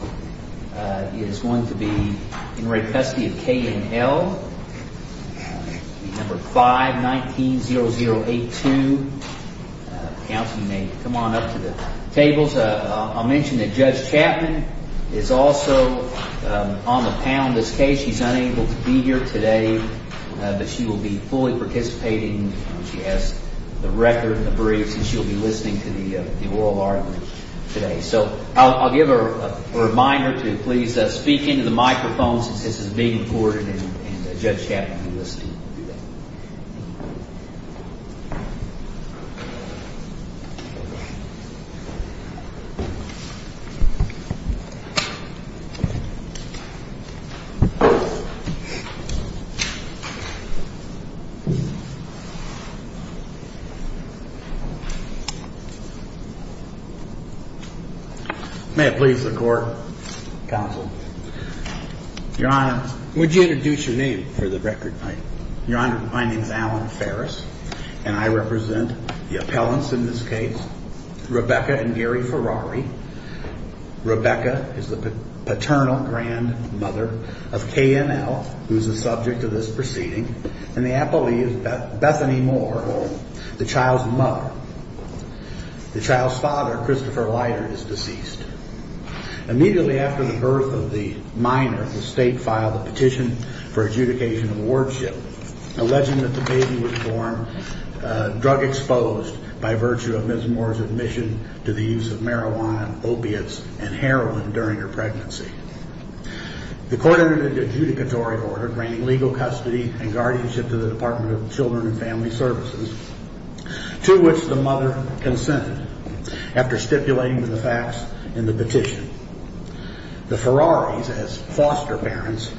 It is going to be in re Custody of K.N.L., number 519-0082. Counsel, you may come on up to the tables. I'll mention that Judge Chapman is also on the panel in this case. She's unable to be here today, but she will be fully participating. She has the record and the briefs, and she'll be listening to the oral argument today. So I'll give her a reminder to please speak into the microphone since this is being recorded and Judge Chapman will be listening. May it please the Court, Counsel. Your Honor, would you introduce your name for the record? Your Honor, my name is Alan Ferris, and I represent the appellants in this case, Rebecca and Gary Ferrari. Rebecca is the paternal grandmother of K.N.L., who is the subject of this proceeding, and the appellee is Bethany Moore, the child's mother. The child's father, Christopher Leiter, is deceased. Immediately after the birth of the minor, the state filed a petition for adjudication of wardship, alleging that the baby was born drug-exposed by virtue of Ms. Moore's admission to the use of marijuana, opiates, and heroin during her pregnancy. The court entered an adjudicatory order granting legal custody and guardianship to the Department of Children and Family Services, to which the mother consented after stipulating the facts in the petition. The Ferraris, as foster parents,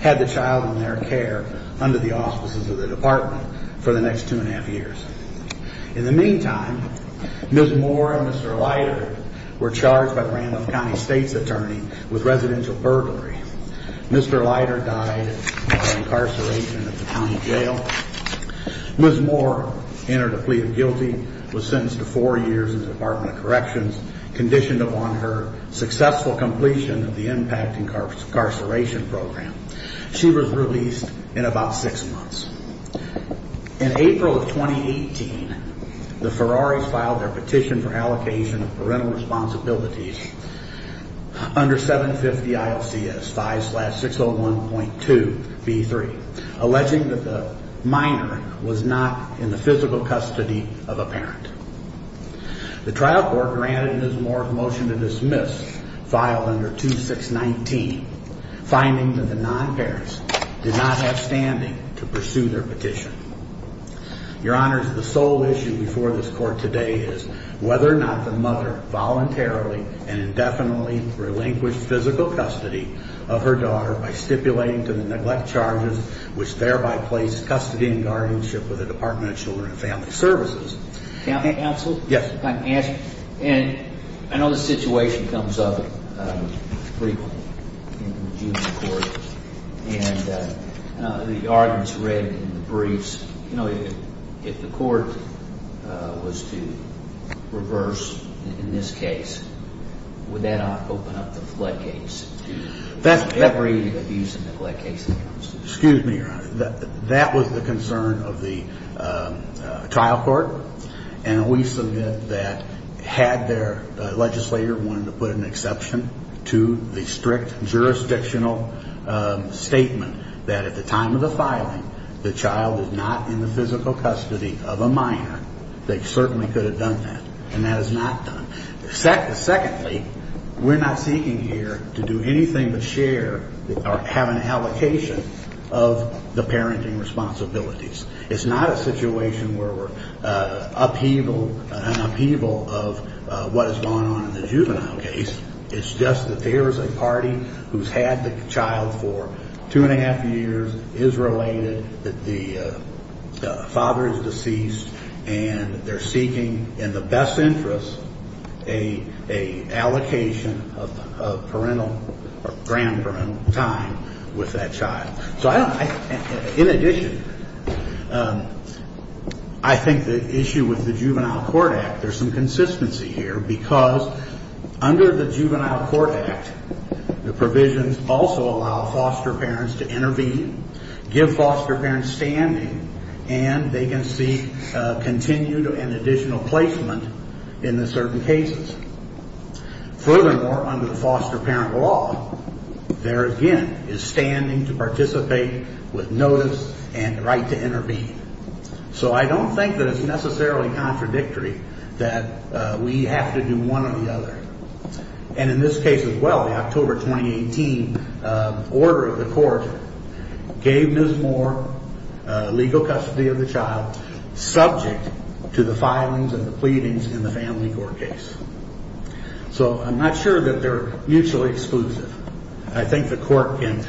had the child in their care under the auspices of the Department for the next two and a half years. In the meantime, Ms. Moore and Mr. Leiter were charged by the Randolph County State's attorney with residential burglary. Mr. Leiter died by incarceration at the county jail. Ms. Moore entered a plea of guilty, was sentenced to four years in the Department of Corrections, conditioned upon her successful completion of the impact incarceration program. She was released in about six months. In April of 2018, the Ferraris filed their petition for allocation of parental responsibilities under 750 ILCS 5-601.2b3, alleging that the minor was not in the physical custody of a parent. The trial court granted Ms. Moore a motion to dismiss filed under 2619, finding that the non-parents did not have standing to pursue their petition. Your Honors, the sole issue before this court today is whether or not the mother voluntarily and indefinitely relinquished physical custody of her daughter by stipulating to the neglect charges, which thereby placed custody and guardianship with the Department of Children and Family Services. Counsel? Yes. And I know the situation comes up frequently in the juvenile court, and the arguments read in the briefs, you know, if the court was to reverse in this case, would that not open up the floodgates? Excuse me, Your Honor. That was the concern of the trial court. And we submit that had their legislator wanted to put an exception to the strict jurisdictional statement that at the time of the filing, the child was not in the physical custody of a minor, they certainly could have done that. And that is not done. Secondly, we're not seeking here to do anything but share or have an allocation of the parenting responsibilities. It's not a situation where we're an upheaval of what is going on in the juvenile case. It's just that there is a party who's had the child for two and a half years, is related, the father is deceased, and they're seeking in the best interest an allocation of parental or grandparental time with that child. So I don't know. In addition, I think the issue with the Juvenile Court Act, there's some consistency here, because under the Juvenile Court Act, the provisions also allow foster parents to intervene, give foster parents standing, and they can seek continued and additional placement in the certain cases. Furthermore, under the foster parent law, there again is standing to participate with notice and the right to intervene. So I don't think that it's necessarily contradictory that we have to do one or the other. And in this case as well, the October 2018 order of the court gave Ms. Moore legal custody of the child, subject to the filings and the pleadings in the family court case. So I'm not sure that they're mutually exclusive. I think the court can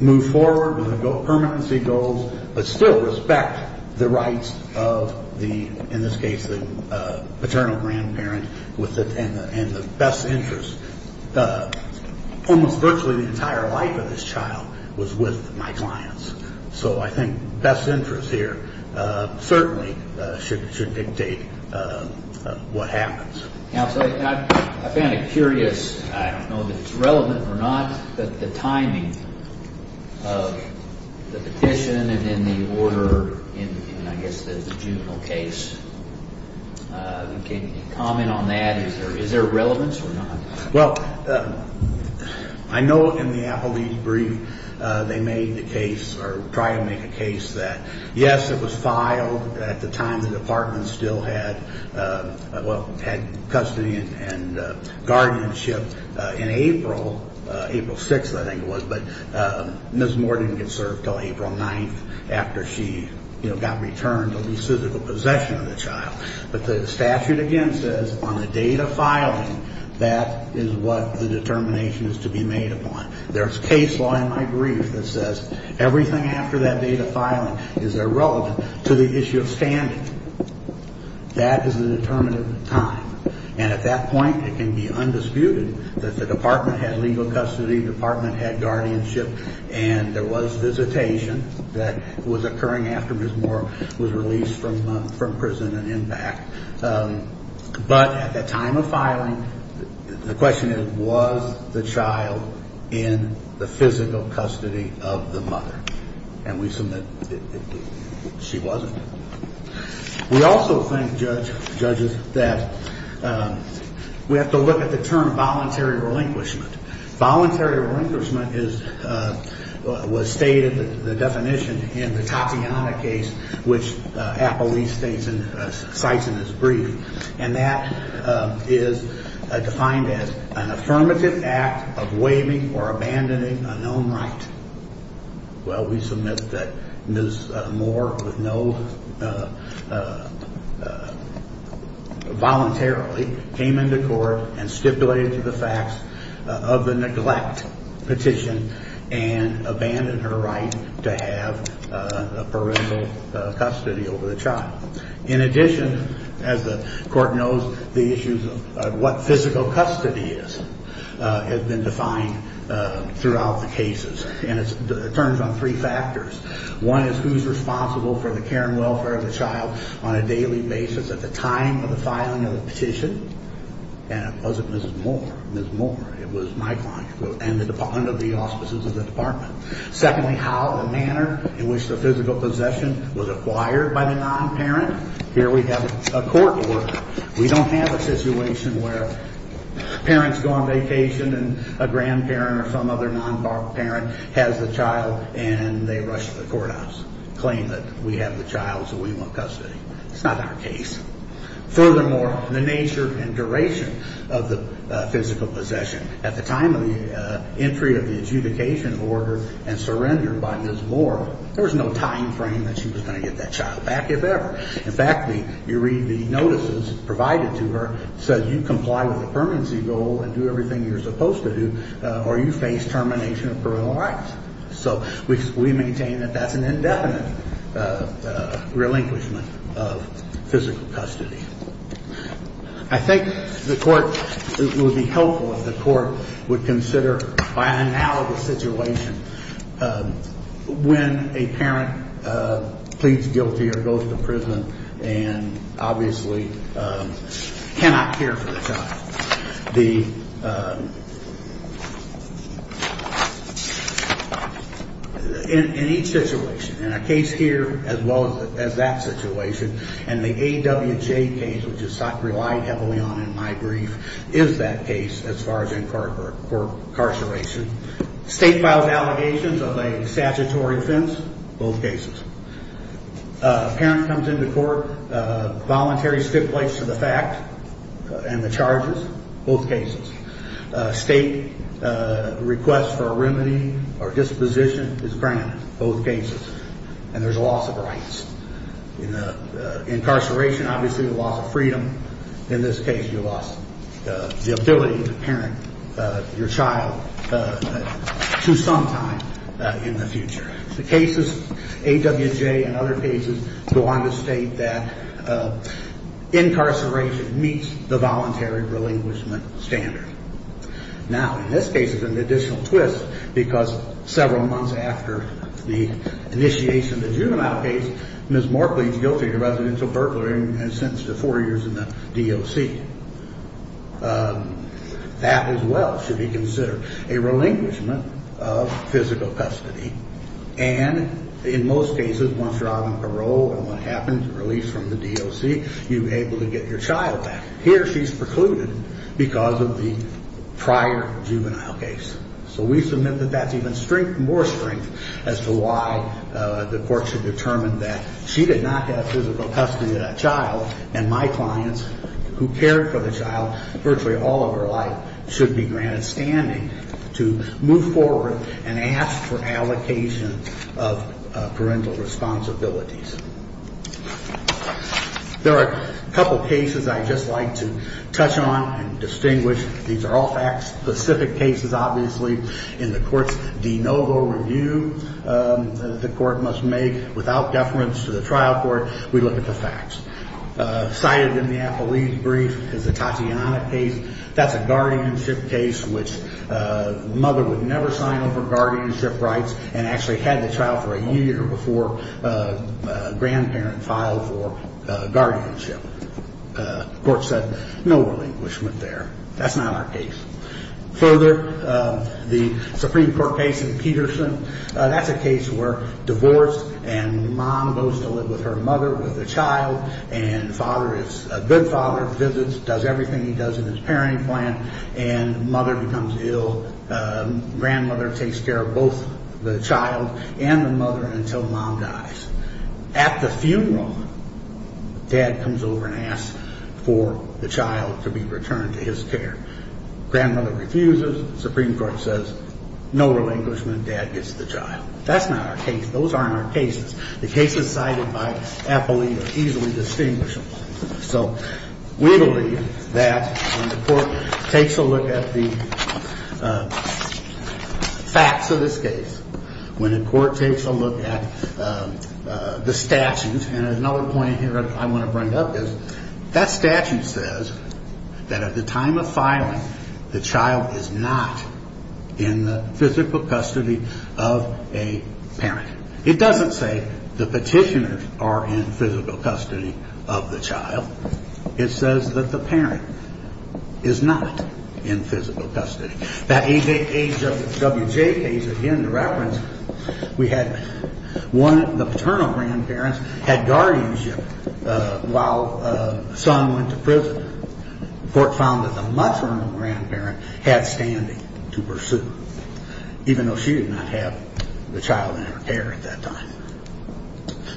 move forward with the permanency goals, but still respect the rights of the, in this case, the paternal grandparent and the best interest. Almost virtually the entire life of this child was with my clients. So I think best interest here certainly should dictate what happens. Counsel, I'm kind of curious, I don't know that it's relevant or not, but the timing of the petition and then the order in, I guess, the juvenile case. Can you comment on that? Is there relevance or not? Well, I know in the appellee's brief, they made the case or tried to make a case that, yes, it was filed. At the time, the department still had custody and guardianship in April, April 6th, I think it was, but Ms. Moore didn't get served until April 9th after she got returned to the physical possession of the child. But the statute, again, says on the date of filing, that is what the determination is to be made upon. There's case law in my brief that says everything after that date of filing is irrelevant to the issue of standing. That is the determinative time. And at that point, it can be undisputed that the department had legal custody, the department had guardianship, and there was visitation that was occurring after Ms. Moore was released from prison and impact. But at the time of filing, the question is, was the child in the physical custody of the mother? And we submit she wasn't. We also think, judges, that we have to look at the term voluntary relinquishment. Voluntary relinquishment was stated, the definition, in the Tatiana case, which Applebee's cites in its brief. And that is defined as an affirmative act of waiving or abandoning a known right. Well, we submit that Ms. Moore voluntarily came into court and stipulated to the facts of the neglect petition and abandoned her right to have parental custody over the child. In addition, as the court knows, the issues of what physical custody is have been defined throughout the cases. And it turns on three factors. One is who's responsible for the care and welfare of the child on a daily basis at the time of the filing of the petition. And it wasn't Ms. Moore. Ms. Moore, it was my client and the department of the auspices of the department. Secondly, how the manner in which the physical possession was acquired by the non-parent. Here we have a court order. We don't have a situation where parents go on vacation and a grandparent or some other non-parent has the child and they rush to the courthouse. Claim that we have the child so we want custody. It's not our case. Furthermore, the nature and duration of the physical possession. At the time of the entry of the adjudication order and surrender by Ms. Moore, there was no time frame that she was going to get that child back, if ever. In fact, you read the notices provided to her. It says you comply with the permanency goal and do everything you're supposed to do or you face termination of parental rights. So we maintain that that's an indefinite relinquishment of physical custody. I think the court would be helpful if the court would consider by an analogous situation when a parent pleads guilty or goes to prison and obviously cannot care for the child. In each situation, in a case here as well as that situation, and the AWJ case, which is relied heavily on in my brief, is that case as far as incarceration. State files allegations of a statutory offense, both cases. A parent comes into court, voluntary stipulates to the fact and the charges, both cases. State requests for a remedy or disposition is granted, both cases. And there's a loss of rights. In incarceration, obviously, there's a loss of freedom. In this case, you lost the ability to parent your child to some time in the future. The cases, AWJ and other cases, go on to state that incarceration meets the voluntary relinquishment standard. Now, in this case, it's an additional twist because several months after the initiation of the juvenile case, Ms. Markley is guilty of residential burglary and sentenced to four years in the DOC. That as well should be considered a relinquishment of physical custody. And in most cases, once you're out on parole and what happened, released from the DOC, you're able to get your child back. Here, she's precluded because of the prior juvenile case. So we submit that that's even more strength as to why the court should determine that she did not have physical custody of that child, and my clients, who cared for the child virtually all of her life, should be granted standing to move forward and ask for allocation of parental responsibilities. There are a couple cases I'd just like to touch on and distinguish. These are all fact-specific cases, obviously. In the court's de novo review that the court must make without deference to the trial court, we look at the facts. Cited in the Appellee's brief is the Tatiana case. That's a guardianship case which the mother would never sign over guardianship rights and actually had the child for a year before a grandparent filed for guardianship. The court said no relinquishment there. That's not our case. Further, the Supreme Court case in Peterson, that's a case where divorced and mom goes to live with her mother with a child and father is a good father, visits, does everything he does in his parenting plan, and mother becomes ill. Grandmother takes care of both the child and the mother until mom dies. At the funeral, dad comes over and asks for the child to be returned to his care. Grandmother refuses. Supreme Court says no relinquishment. Dad gets the child. That's not our case. Those aren't our cases. The cases cited by Appellee are easily distinguishable. So we believe that when the court takes a look at the facts of this case, when the court takes a look at the statutes, and another point here I want to bring up is that statute says that at the time of filing, the child is not in the physical custody of a parent. It doesn't say the petitioners are in physical custody of the child. It says that the parent is not in physical custody. That W.J. case, again, the reference, we had one of the paternal grandparents had guardianship while son went to prison. The court found that the maternal grandparent had standing to pursue, even though she did not have the child in her care at that time.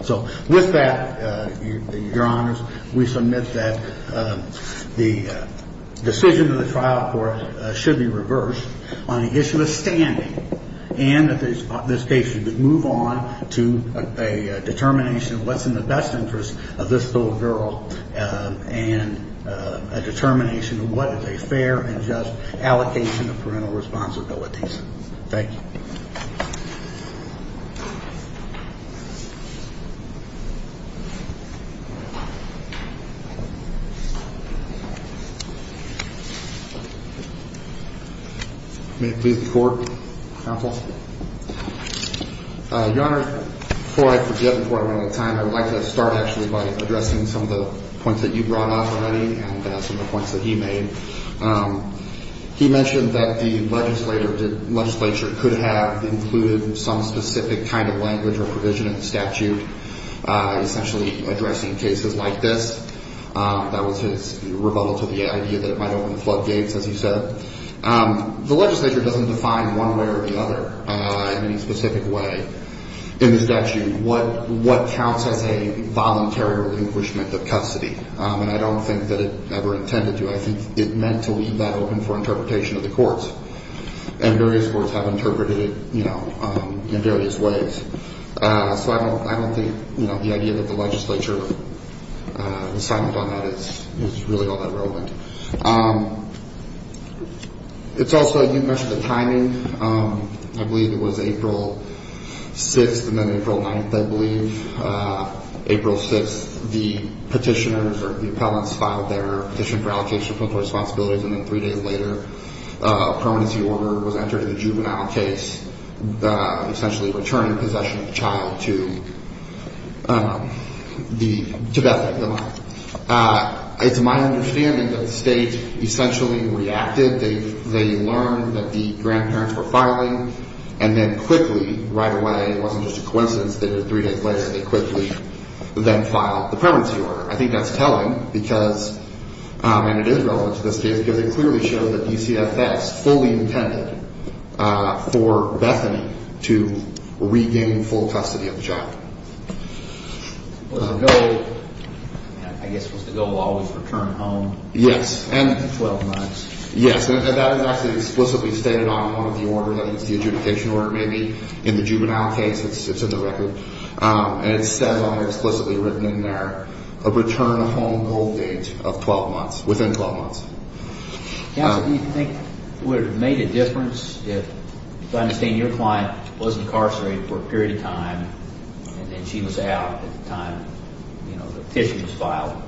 So with that, Your Honors, we submit that the decision of the trial court should be reversed on the issue of standing and that this case should move on to a determination of what's in the best interest of this little girl and a determination of what is a fair and just allocation of parental responsibilities. Thank you. May it please the court, counsel? Your Honor, before I forget, before I run out of time, I would like to start actually by addressing some of the points that you brought up already and some of the points that he made. He mentioned that the legislature could have included some specific kind of language or provision in the statute, essentially addressing cases like this. That was his rebuttal to the idea that it might open the floodgates, as he said. The legislature doesn't define one way or the other in any specific way in the statute what counts as a voluntary relinquishment of custody, and I don't think that it ever intended to. I think it meant to leave that open for interpretation of the courts, and various courts have interpreted it in various ways. So I don't think the idea that the legislature decided on that is really all that relevant. It's also, you mentioned the timing. I believe it was April 6th and then April 9th, I believe. April 6th, the petitioners or the appellants filed their petition for allocation of parental responsibilities, and then three days later a permanency order was entered in the juvenile case, essentially returning possession of the child to Bethany, the mother. It's my understanding that the state essentially reacted. They learned that the grandparents were filing, and then quickly, right away, it wasn't just a coincidence that three days later, they quickly then filed the permanency order. I think that's telling because, and it is relevant to this case, because it clearly showed that DCFS fully intended for Bethany to regain full custody of the child. Was the goal, I guess, was the goal always return home? Yes. In 12 months. Yes. And that is actually explicitly stated on one of the orders. I think it's the adjudication order, maybe, in the juvenile case. It's in the record. And it says on it, explicitly written in there, a return home hold date of 12 months, within 12 months. Counsel, do you think it would have made a difference if, I understand your client was incarcerated for a period of time, and then she was out at the time, you know, the petition was filed.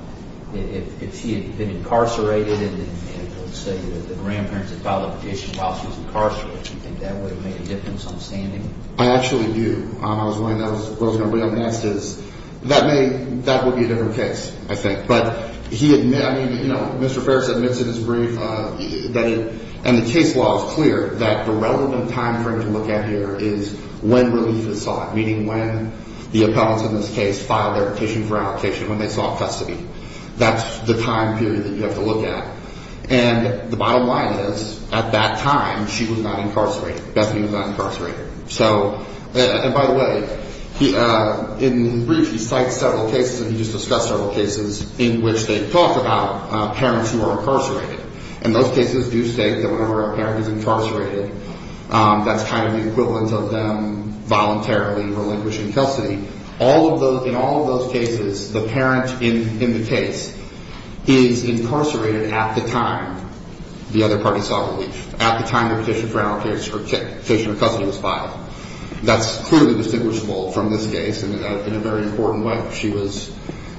If she had been incarcerated and, let's say, the grandparents had filed a petition while she was incarcerated, do you think that would have made a difference on standing? I actually do. I was wondering what was going to be up next is, that may, that would be a different case, I think. But he, I mean, you know, Mr. Ferris admits in his brief that he, and the case law is clear that the relevant time frame to look at here is when relief is sought, meaning when the appellants in this case filed their petition for allocation, when they sought custody. That's the time period that you have to look at. And the bottom line is, at that time, she was not incarcerated. Bethany was not incarcerated. So, and by the way, in the brief, he cites several cases, and he just discussed several cases in which they talk about parents who are incarcerated. And those cases do state that whenever a parent is incarcerated, that's kind of the equivalent of them voluntarily relinquishing custody. All of those, in all of those cases, the parent in the case is incarcerated at the time the other party sought relief, at the time they petitioned for allocation, or petitioned for custody was filed. That's clearly distinguishable from this case, and in a very important way. She was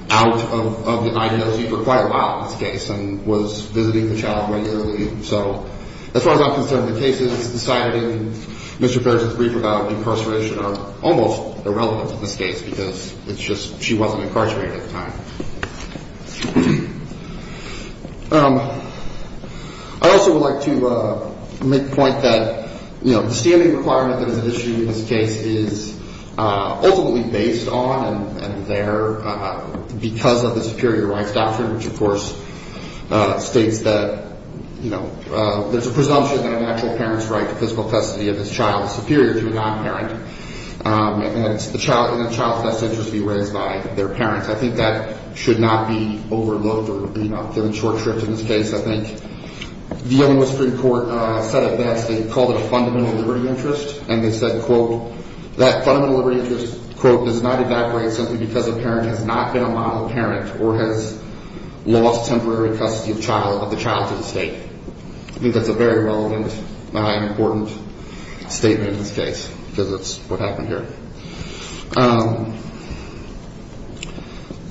out of the IAOC for quite a while in this case, and was visiting the child regularly. So as far as I'm concerned, the cases cited in Mr. Ferris' brief about incarceration are almost irrelevant in this case, because it's just she wasn't incarcerated at the time. I also would like to make the point that, you know, the standing requirement that is at issue in this case is ultimately based on and there because of the superior rights doctrine, which, of course, states that, you know, there's a presumption that a natural parent's right to physical custody of his child is superior to a non-parent. And it's in the child's best interest to be raised by their parents. I think that should not be overloaded or given short shrift in this case. I think the Illinois Supreme Court said it best. They called it a fundamental liberty interest, and they said, quote, that fundamental liberty interest, quote, does not evaporate simply because a parent has not been a model parent or has lost temporary custody of the child to the state. I think that's a very relevant and important statement in this case, because that's what happened here.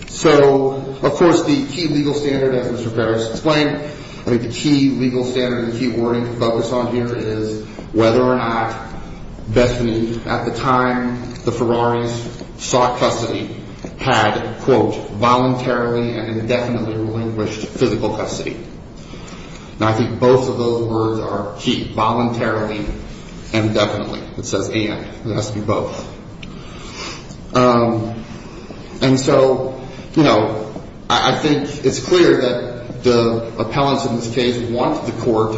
So, of course, the key legal standard, as Mr. Perez explained, the key legal standard, the key wording to focus on here is whether or not Bethany, at the time the Ferraris sought custody, had, quote, voluntarily and indefinitely relinquished physical custody. And I think both of those words are key, voluntarily and indefinitely. It says and. It has to be both. And so, you know, I think it's clear that the appellants in this case want the court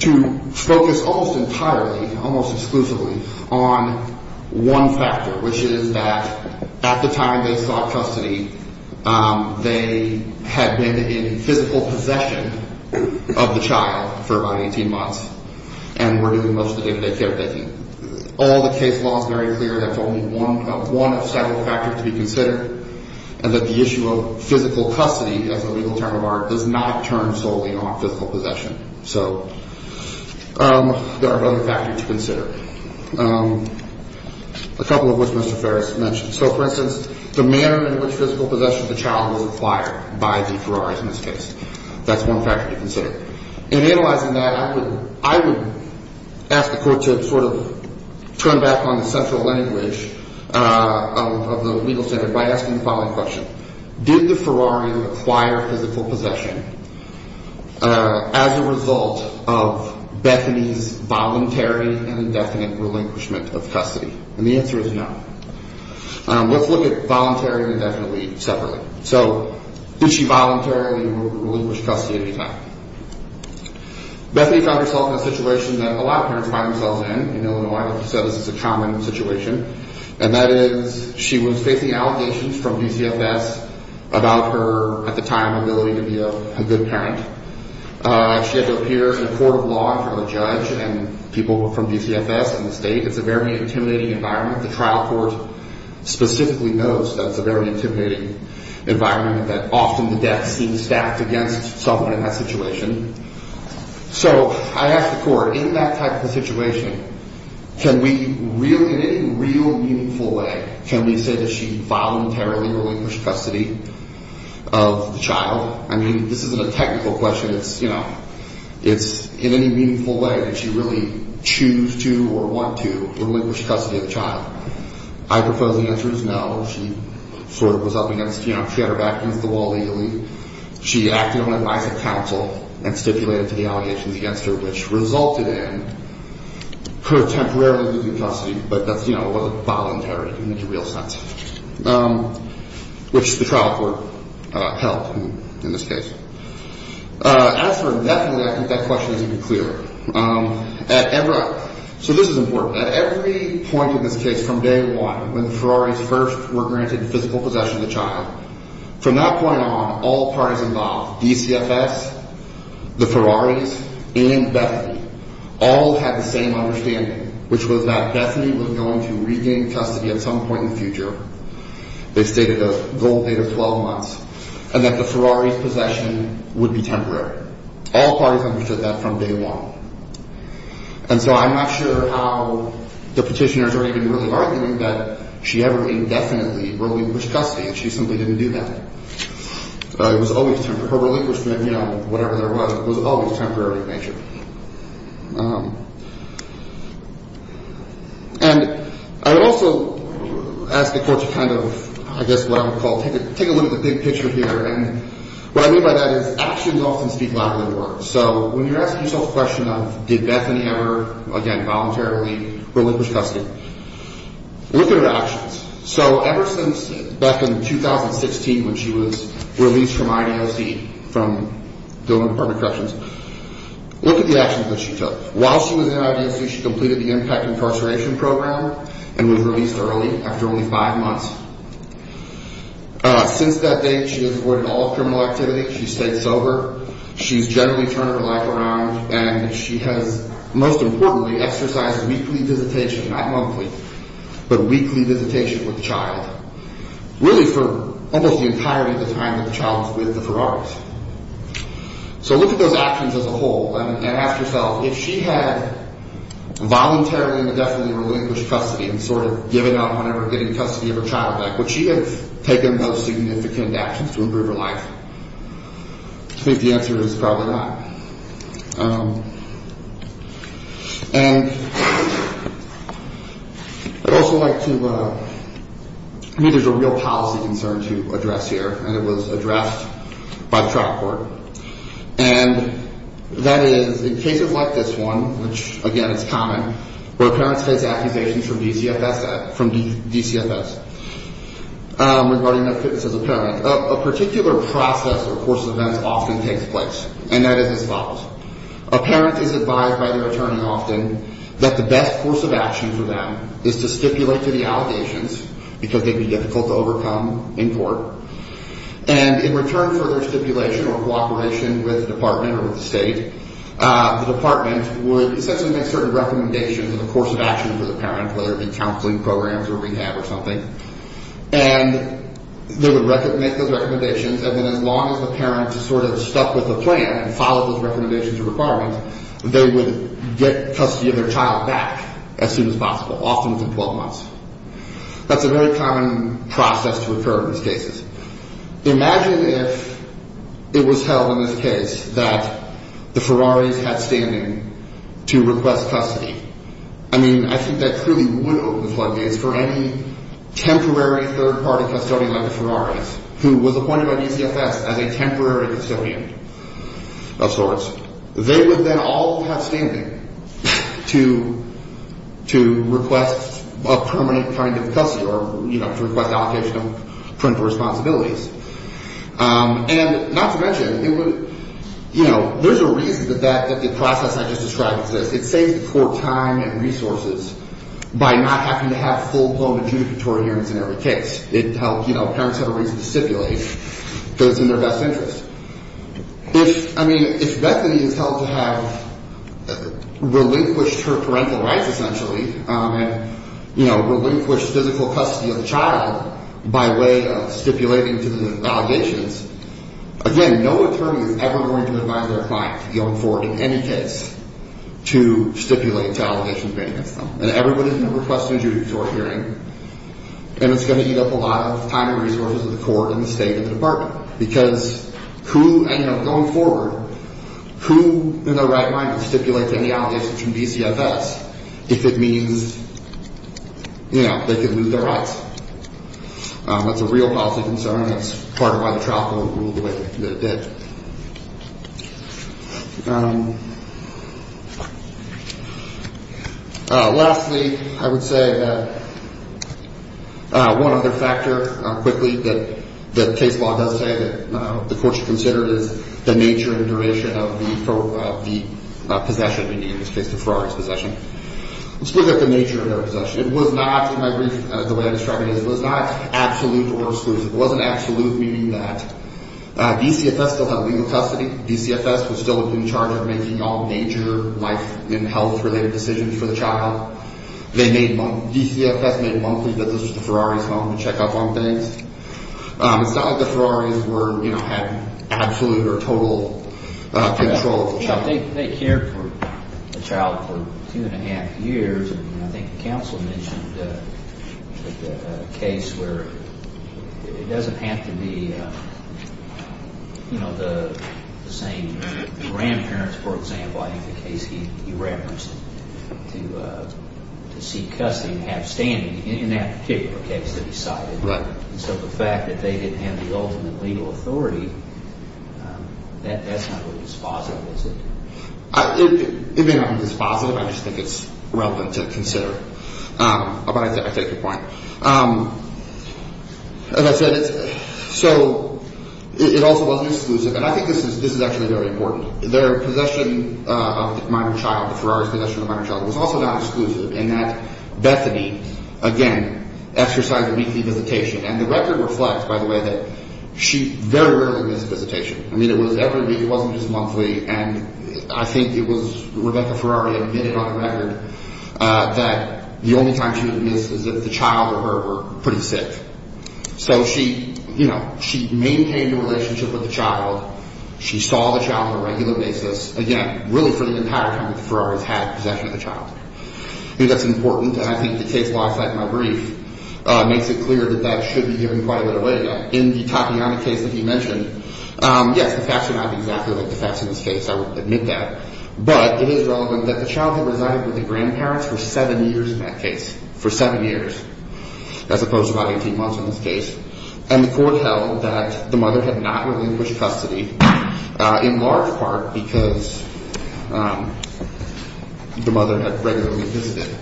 to focus almost entirely, almost exclusively on one factor, which is that at the time they sought custody, they had been in physical possession of the child for about 18 months and were doing most of the day-to-day caretaking. All the case law is very clear that's only one of several factors to be considered and that the issue of physical custody as a legal term of art does not turn solely on physical possession. So there are other factors to consider, a couple of which Mr. Perez mentioned. So, for instance, the manner in which physical possession of the child was acquired by the Ferraris in this case, that's one factor to consider. In analyzing that, I would ask the court to sort of turn back on the central language of the legal standard by asking the following question. Did the Ferrari acquire physical possession as a result of Bethany's voluntary and indefinite relinquishment of custody? And the answer is no. Let's look at voluntary and indefinitely separately. So did she voluntarily relinquish custody at any time? Bethany found herself in a situation that a lot of parents find themselves in, in Illinois, which is a common situation, and that is she was facing allegations from DCFS about her, at the time, ability to be a good parent. She had to appear in a court of law in front of a judge and people from DCFS and the state. It's a very intimidating environment. The trial court specifically knows that it's a very intimidating environment, that often the death seems stacked against someone in that situation. So I ask the court, in that type of a situation, can we really, in any real meaningful way, can we say that she voluntarily relinquished custody of the child? I mean, this isn't a technical question. It's in any meaningful way, did she really choose to or want to relinquish custody of the child? I propose the answer is no. She sort of was up against, you know, she had her back against the wall legally. She acted on advice of counsel and stipulated to the allegations against her, which resulted in her temporarily losing custody, but that, you know, wasn't voluntary in the real sense, which the trial court helped in this case. As for Bethany, I think that question is even clearer. So this is important. At every point in this case from day one, when the Ferraris first were granted physical possession of the child, from that point on, all parties involved, DCFS, the Ferraris, and Bethany, all had the same understanding, which was that Bethany was going to regain custody at some point in the future. They stated a goal date of 12 months, and that the Ferraris' possession would be temporary. All parties understood that from day one. And so I'm not sure how the petitioners are even really arguing that she ever indefinitely relinquished custody. She simply didn't do that. It was always temporary. Her relinquishment, you know, whatever there was, was always temporary in nature. And I would also ask the court to kind of, I guess, what I would call take a look at the big picture here. And what I mean by that is actions often speak louder than words. So when you're asking yourself the question of did Bethany ever, again, voluntarily relinquish custody, look at her actions. So ever since back in 2016 when she was released from IDOC, from the Department of Corrections, look at the actions that she took. While she was in IDOC, she completed the Impact Incarceration Program and was released early, after only five months. Since that date, she has avoided all criminal activity. She stayed sober. She's generally turned her life around. And she has, most importantly, exercised weekly visitation, not monthly, but weekly visitation with the child, really for almost the entirety of the time that the child was with the Ferraris. So look at those actions as a whole and ask yourself, if she had voluntarily indefinitely relinquished custody and sort of given up on ever getting custody of her child back, would she have taken those significant actions to improve her life? I think the answer is probably not. And I'd also like to, I think there's a real policy concern to address here, and it was addressed by the trial court. And that is, in cases like this one, which, again, is common, where parents face accusations from DCFS regarding their fitness as a parent, a particular process or course of events often takes place, and that is as follows. A parent is advised by their attorney often that the best course of action for them is to stipulate to the allegations, because they'd be difficult to overcome in court, and in return for their stipulation or cooperation with the department or with the state, the department would essentially make certain recommendations of a course of action for the parent, whether it be counseling programs or rehab or something, and they would make those recommendations, and then as long as the parent is sort of stuck with the plan and follows those recommendations or requirements, they would get custody of their child back as soon as possible, often within 12 months. That's a very common process to occur in these cases. Imagine if it was held in this case that the Ferraris had standing to request custody. I mean, I think that truly would open the floodgates for any temporary third-party custodian like the Ferraris, who was appointed by DCFS as a temporary custodian of sorts. They would then all have standing to request a permanent kind of custody or, you know, to request allocation of parental responsibilities. And not to mention, you know, there's a reason that the process I just described exists. It saves the court time and resources by not having to have full-blown adjudicatory hearings in every case. It helps, you know, parents have a reason to stipulate because it's in their best interest. If, I mean, if Bethany is held to have relinquished her parental rights, essentially, and, you know, relinquished physical custody of the child by way of stipulating to the allegations, again, no attorney is ever going to advise their client going forward in any case to stipulate to allegations against them. And everybody's going to request an adjudicatory hearing, and it's going to eat up a lot of time and resources of the court and the state and the department. Because who, you know, going forward, who in their right mind would stipulate to any allegations from DCFS if it means, you know, they could lose their rights? That's a real policy concern. That's part of why the trial court ruled the way that it did. Lastly, I would say that one other factor, quickly, that the case law does say that the court should consider is the nature and duration of the possession, meaning in this case the Ferrari's possession. It was not, in my brief, the way I described it, it was not absolute or exclusive. It wasn't absolute, meaning that DCFS still had legal custody. DCFS was still in charge of making all major life and health-related decisions for the child. They made, DCFS made monthly visits to Ferrari's home to check up on things. It's not like the Ferrari's were, you know, had absolute or total control of the child. Well, they cared for the child for two and a half years. And I think the counsel mentioned the case where it doesn't have to be, you know, the same grandparents, for example, I think the case he referenced, to seek custody and have standing in that particular case that he cited. So the fact that they didn't have the ultimate legal authority, that's not really dispositive, is it? It may not be dispositive. I just think it's relevant to consider. But I take your point. As I said, so it also wasn't exclusive. And I think this is actually very important. Their possession of the minor child, the Ferrari's possession of the minor child, was also not exclusive in that Bethany, again, exercised a weekly visitation. And the record reflects, by the way, that she very rarely missed a visitation. I mean, it was every week. It wasn't just monthly. And I think it was Rebecca Ferrari admitted on the record that the only time she would miss is if the child or her were pretty sick. So she, you know, she maintained a relationship with the child. She saw the child on a regular basis, again, really for the entire time that the Ferrari's had possession of the child. I think that's important. And I think the case law, like my brief, makes it clear that that should be given quite a bit of weight again. In the Tatiana case that you mentioned, yes, the facts are not exactly like the facts in this case. I will admit that. But it is relevant that the child had resided with the grandparents for seven years in that case, for seven years, as opposed to about 18 months in this case. And the court held that the mother had not relinquished custody in large part because the mother had regularly visited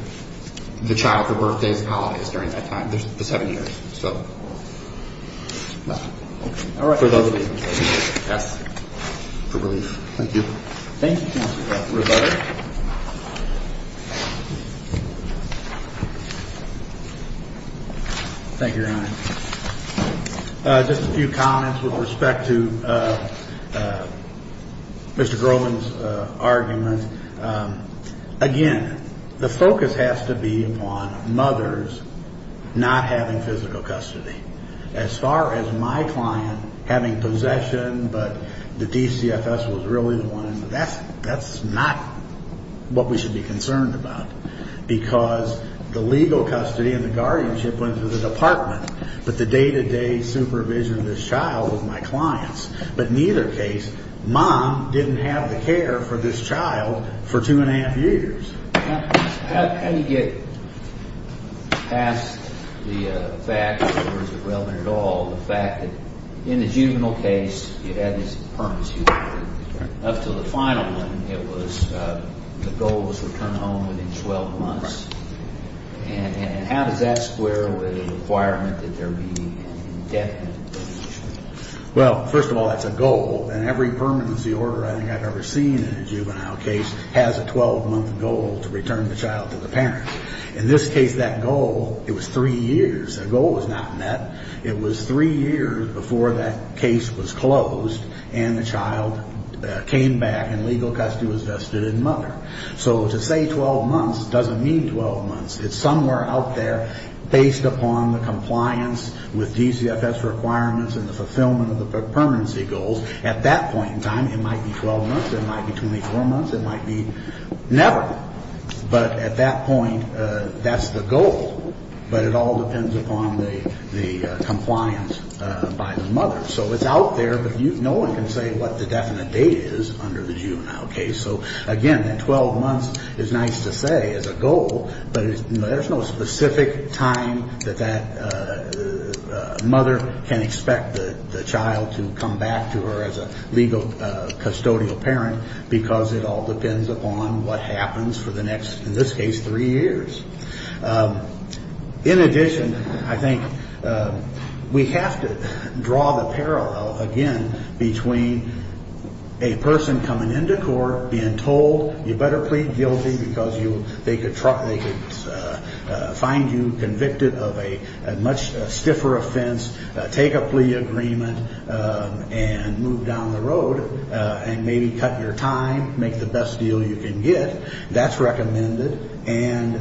the child for birthdays and holidays during that time, the seven years. So, yeah. All right. For those reasons. Yes. For relief. Thank you. Thank you, counsel. Thank you. Just a few comments with respect to Mr. Grohman's argument. Again, the focus has to be on mothers not having physical custody. As far as my client having possession, but the DCFS was really the one, that's not what we should be concerned about. Because the legal custody and the guardianship went to the department. But the day-to-day supervision of this child was my client's. But in either case, mom didn't have the care for this child for two and a half years. How do you get past the fact, or is it relevant at all, the fact that in the juvenile case, it had this permanency order. Up to the final one, it was the goal was to return home within 12 months. And how does that square with a requirement that there be an indefinite deletion? Well, first of all, that's a goal. And every permanency order I think I've ever seen in a juvenile case has a 12-month goal to return the child to the parent. In this case, that goal, it was three years. That goal was not met. It was three years before that case was closed and the child came back and legal custody was vested in mother. So to say 12 months doesn't mean 12 months. It's somewhere out there based upon the compliance with DCFS requirements and the fulfillment of the permanency goals. At that point in time, it might be 12 months. It might be 24 months. It might be never. But at that point, that's the goal. But it all depends upon the compliance by the mother. So it's out there, but no one can say what the definite date is under the juvenile case. So, again, that 12 months is nice to say as a goal, but there's no specific time that that mother can expect the child to come back to her as a legal custodial parent because it all depends upon what happens for the next, in this case, three years. In addition, I think we have to draw the parallel, again, between a person coming into court being told, you better plead guilty because they could find you convicted of a much stiffer offense, take a plea agreement and move down the road and maybe cut your time, make the best deal you can get. That's recommended, and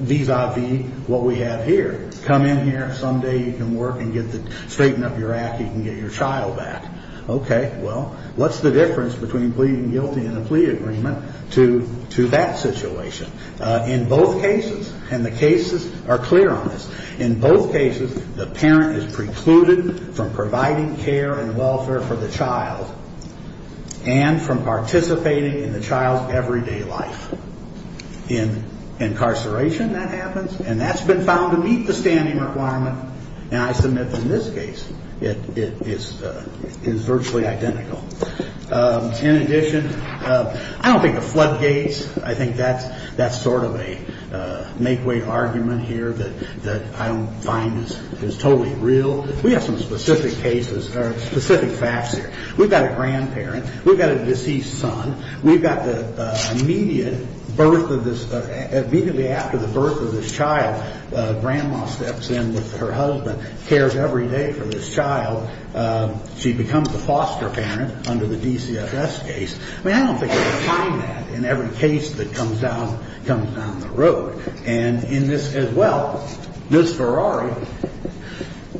vis-a-vis what we have here. Come in here. Someday you can work and straighten up your act. You can get your child back. Okay. Well, what's the difference between pleading guilty and a plea agreement to that situation? In both cases, and the cases are clear on this, in both cases, the parent is precluded from providing care and welfare for the child and from participating in the child's everyday life. In incarceration, that happens, and that's been found to meet the standing requirement, and I submit in this case it is virtually identical. In addition, I don't think of floodgates. I think that's sort of a make-weight argument here that I don't find is totally real. We have some specific cases or specific facts here. We've got a grandparent. We've got a deceased son. We've got the immediate birth of this, immediately after the birth of this child, grandma steps in with her husband, cares every day for this child. She becomes the foster parent under the DCFS case. I mean, I don't think you're going to find that in every case that comes down the road. And in this as well, Ms. Ferrari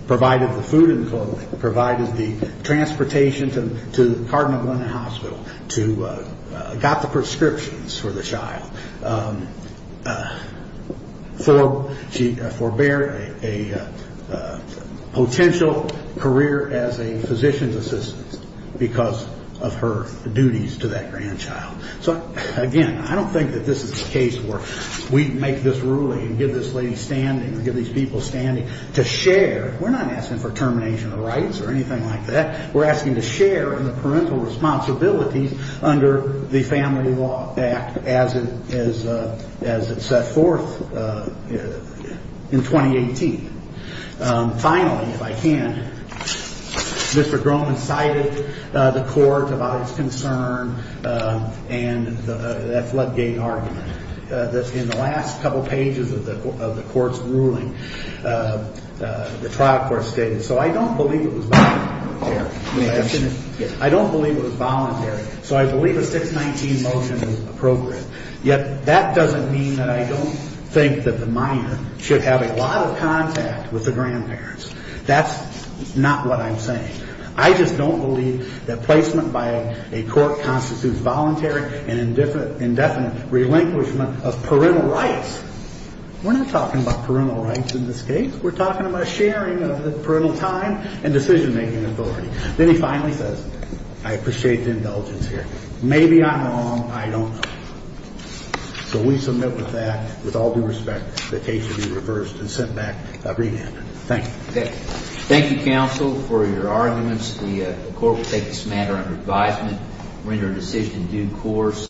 provided the food and clothing, provided the transportation to Cardinal Glen Hospital, got the prescriptions for the child. She forbade a potential career as a physician's assistant because of her duties to that grandchild. So, again, I don't think that this is a case where we make this ruling and give this lady standing or give these people standing to share. We're not asking for termination of rights or anything like that. We're asking to share in the parental responsibilities under the Family Law Act as it set forth in 2018. Finally, if I can, Mr. Groman cited the court about his concern and that floodgate argument. In the last couple pages of the court's ruling, the trial court stated, so I don't believe it was voluntary. So I believe a 619 motion is appropriate. Yet that doesn't mean that I don't think that the minor should have a lot of contact with the grandparents. That's not what I'm saying. I just don't believe that placement by a court constitutes voluntary and indefinite relinquishment of parental rights. We're not talking about parental rights in this case. We're talking about sharing of parental time and decision-making authority. Then he finally says, I appreciate the indulgence here. Maybe I'm wrong. I don't know. So we submit with that, with all due respect, that case should be reversed and sent back a remand. Thank you. Thank you, counsel, for your arguments. The court will take this matter under advisement, render a decision in due course.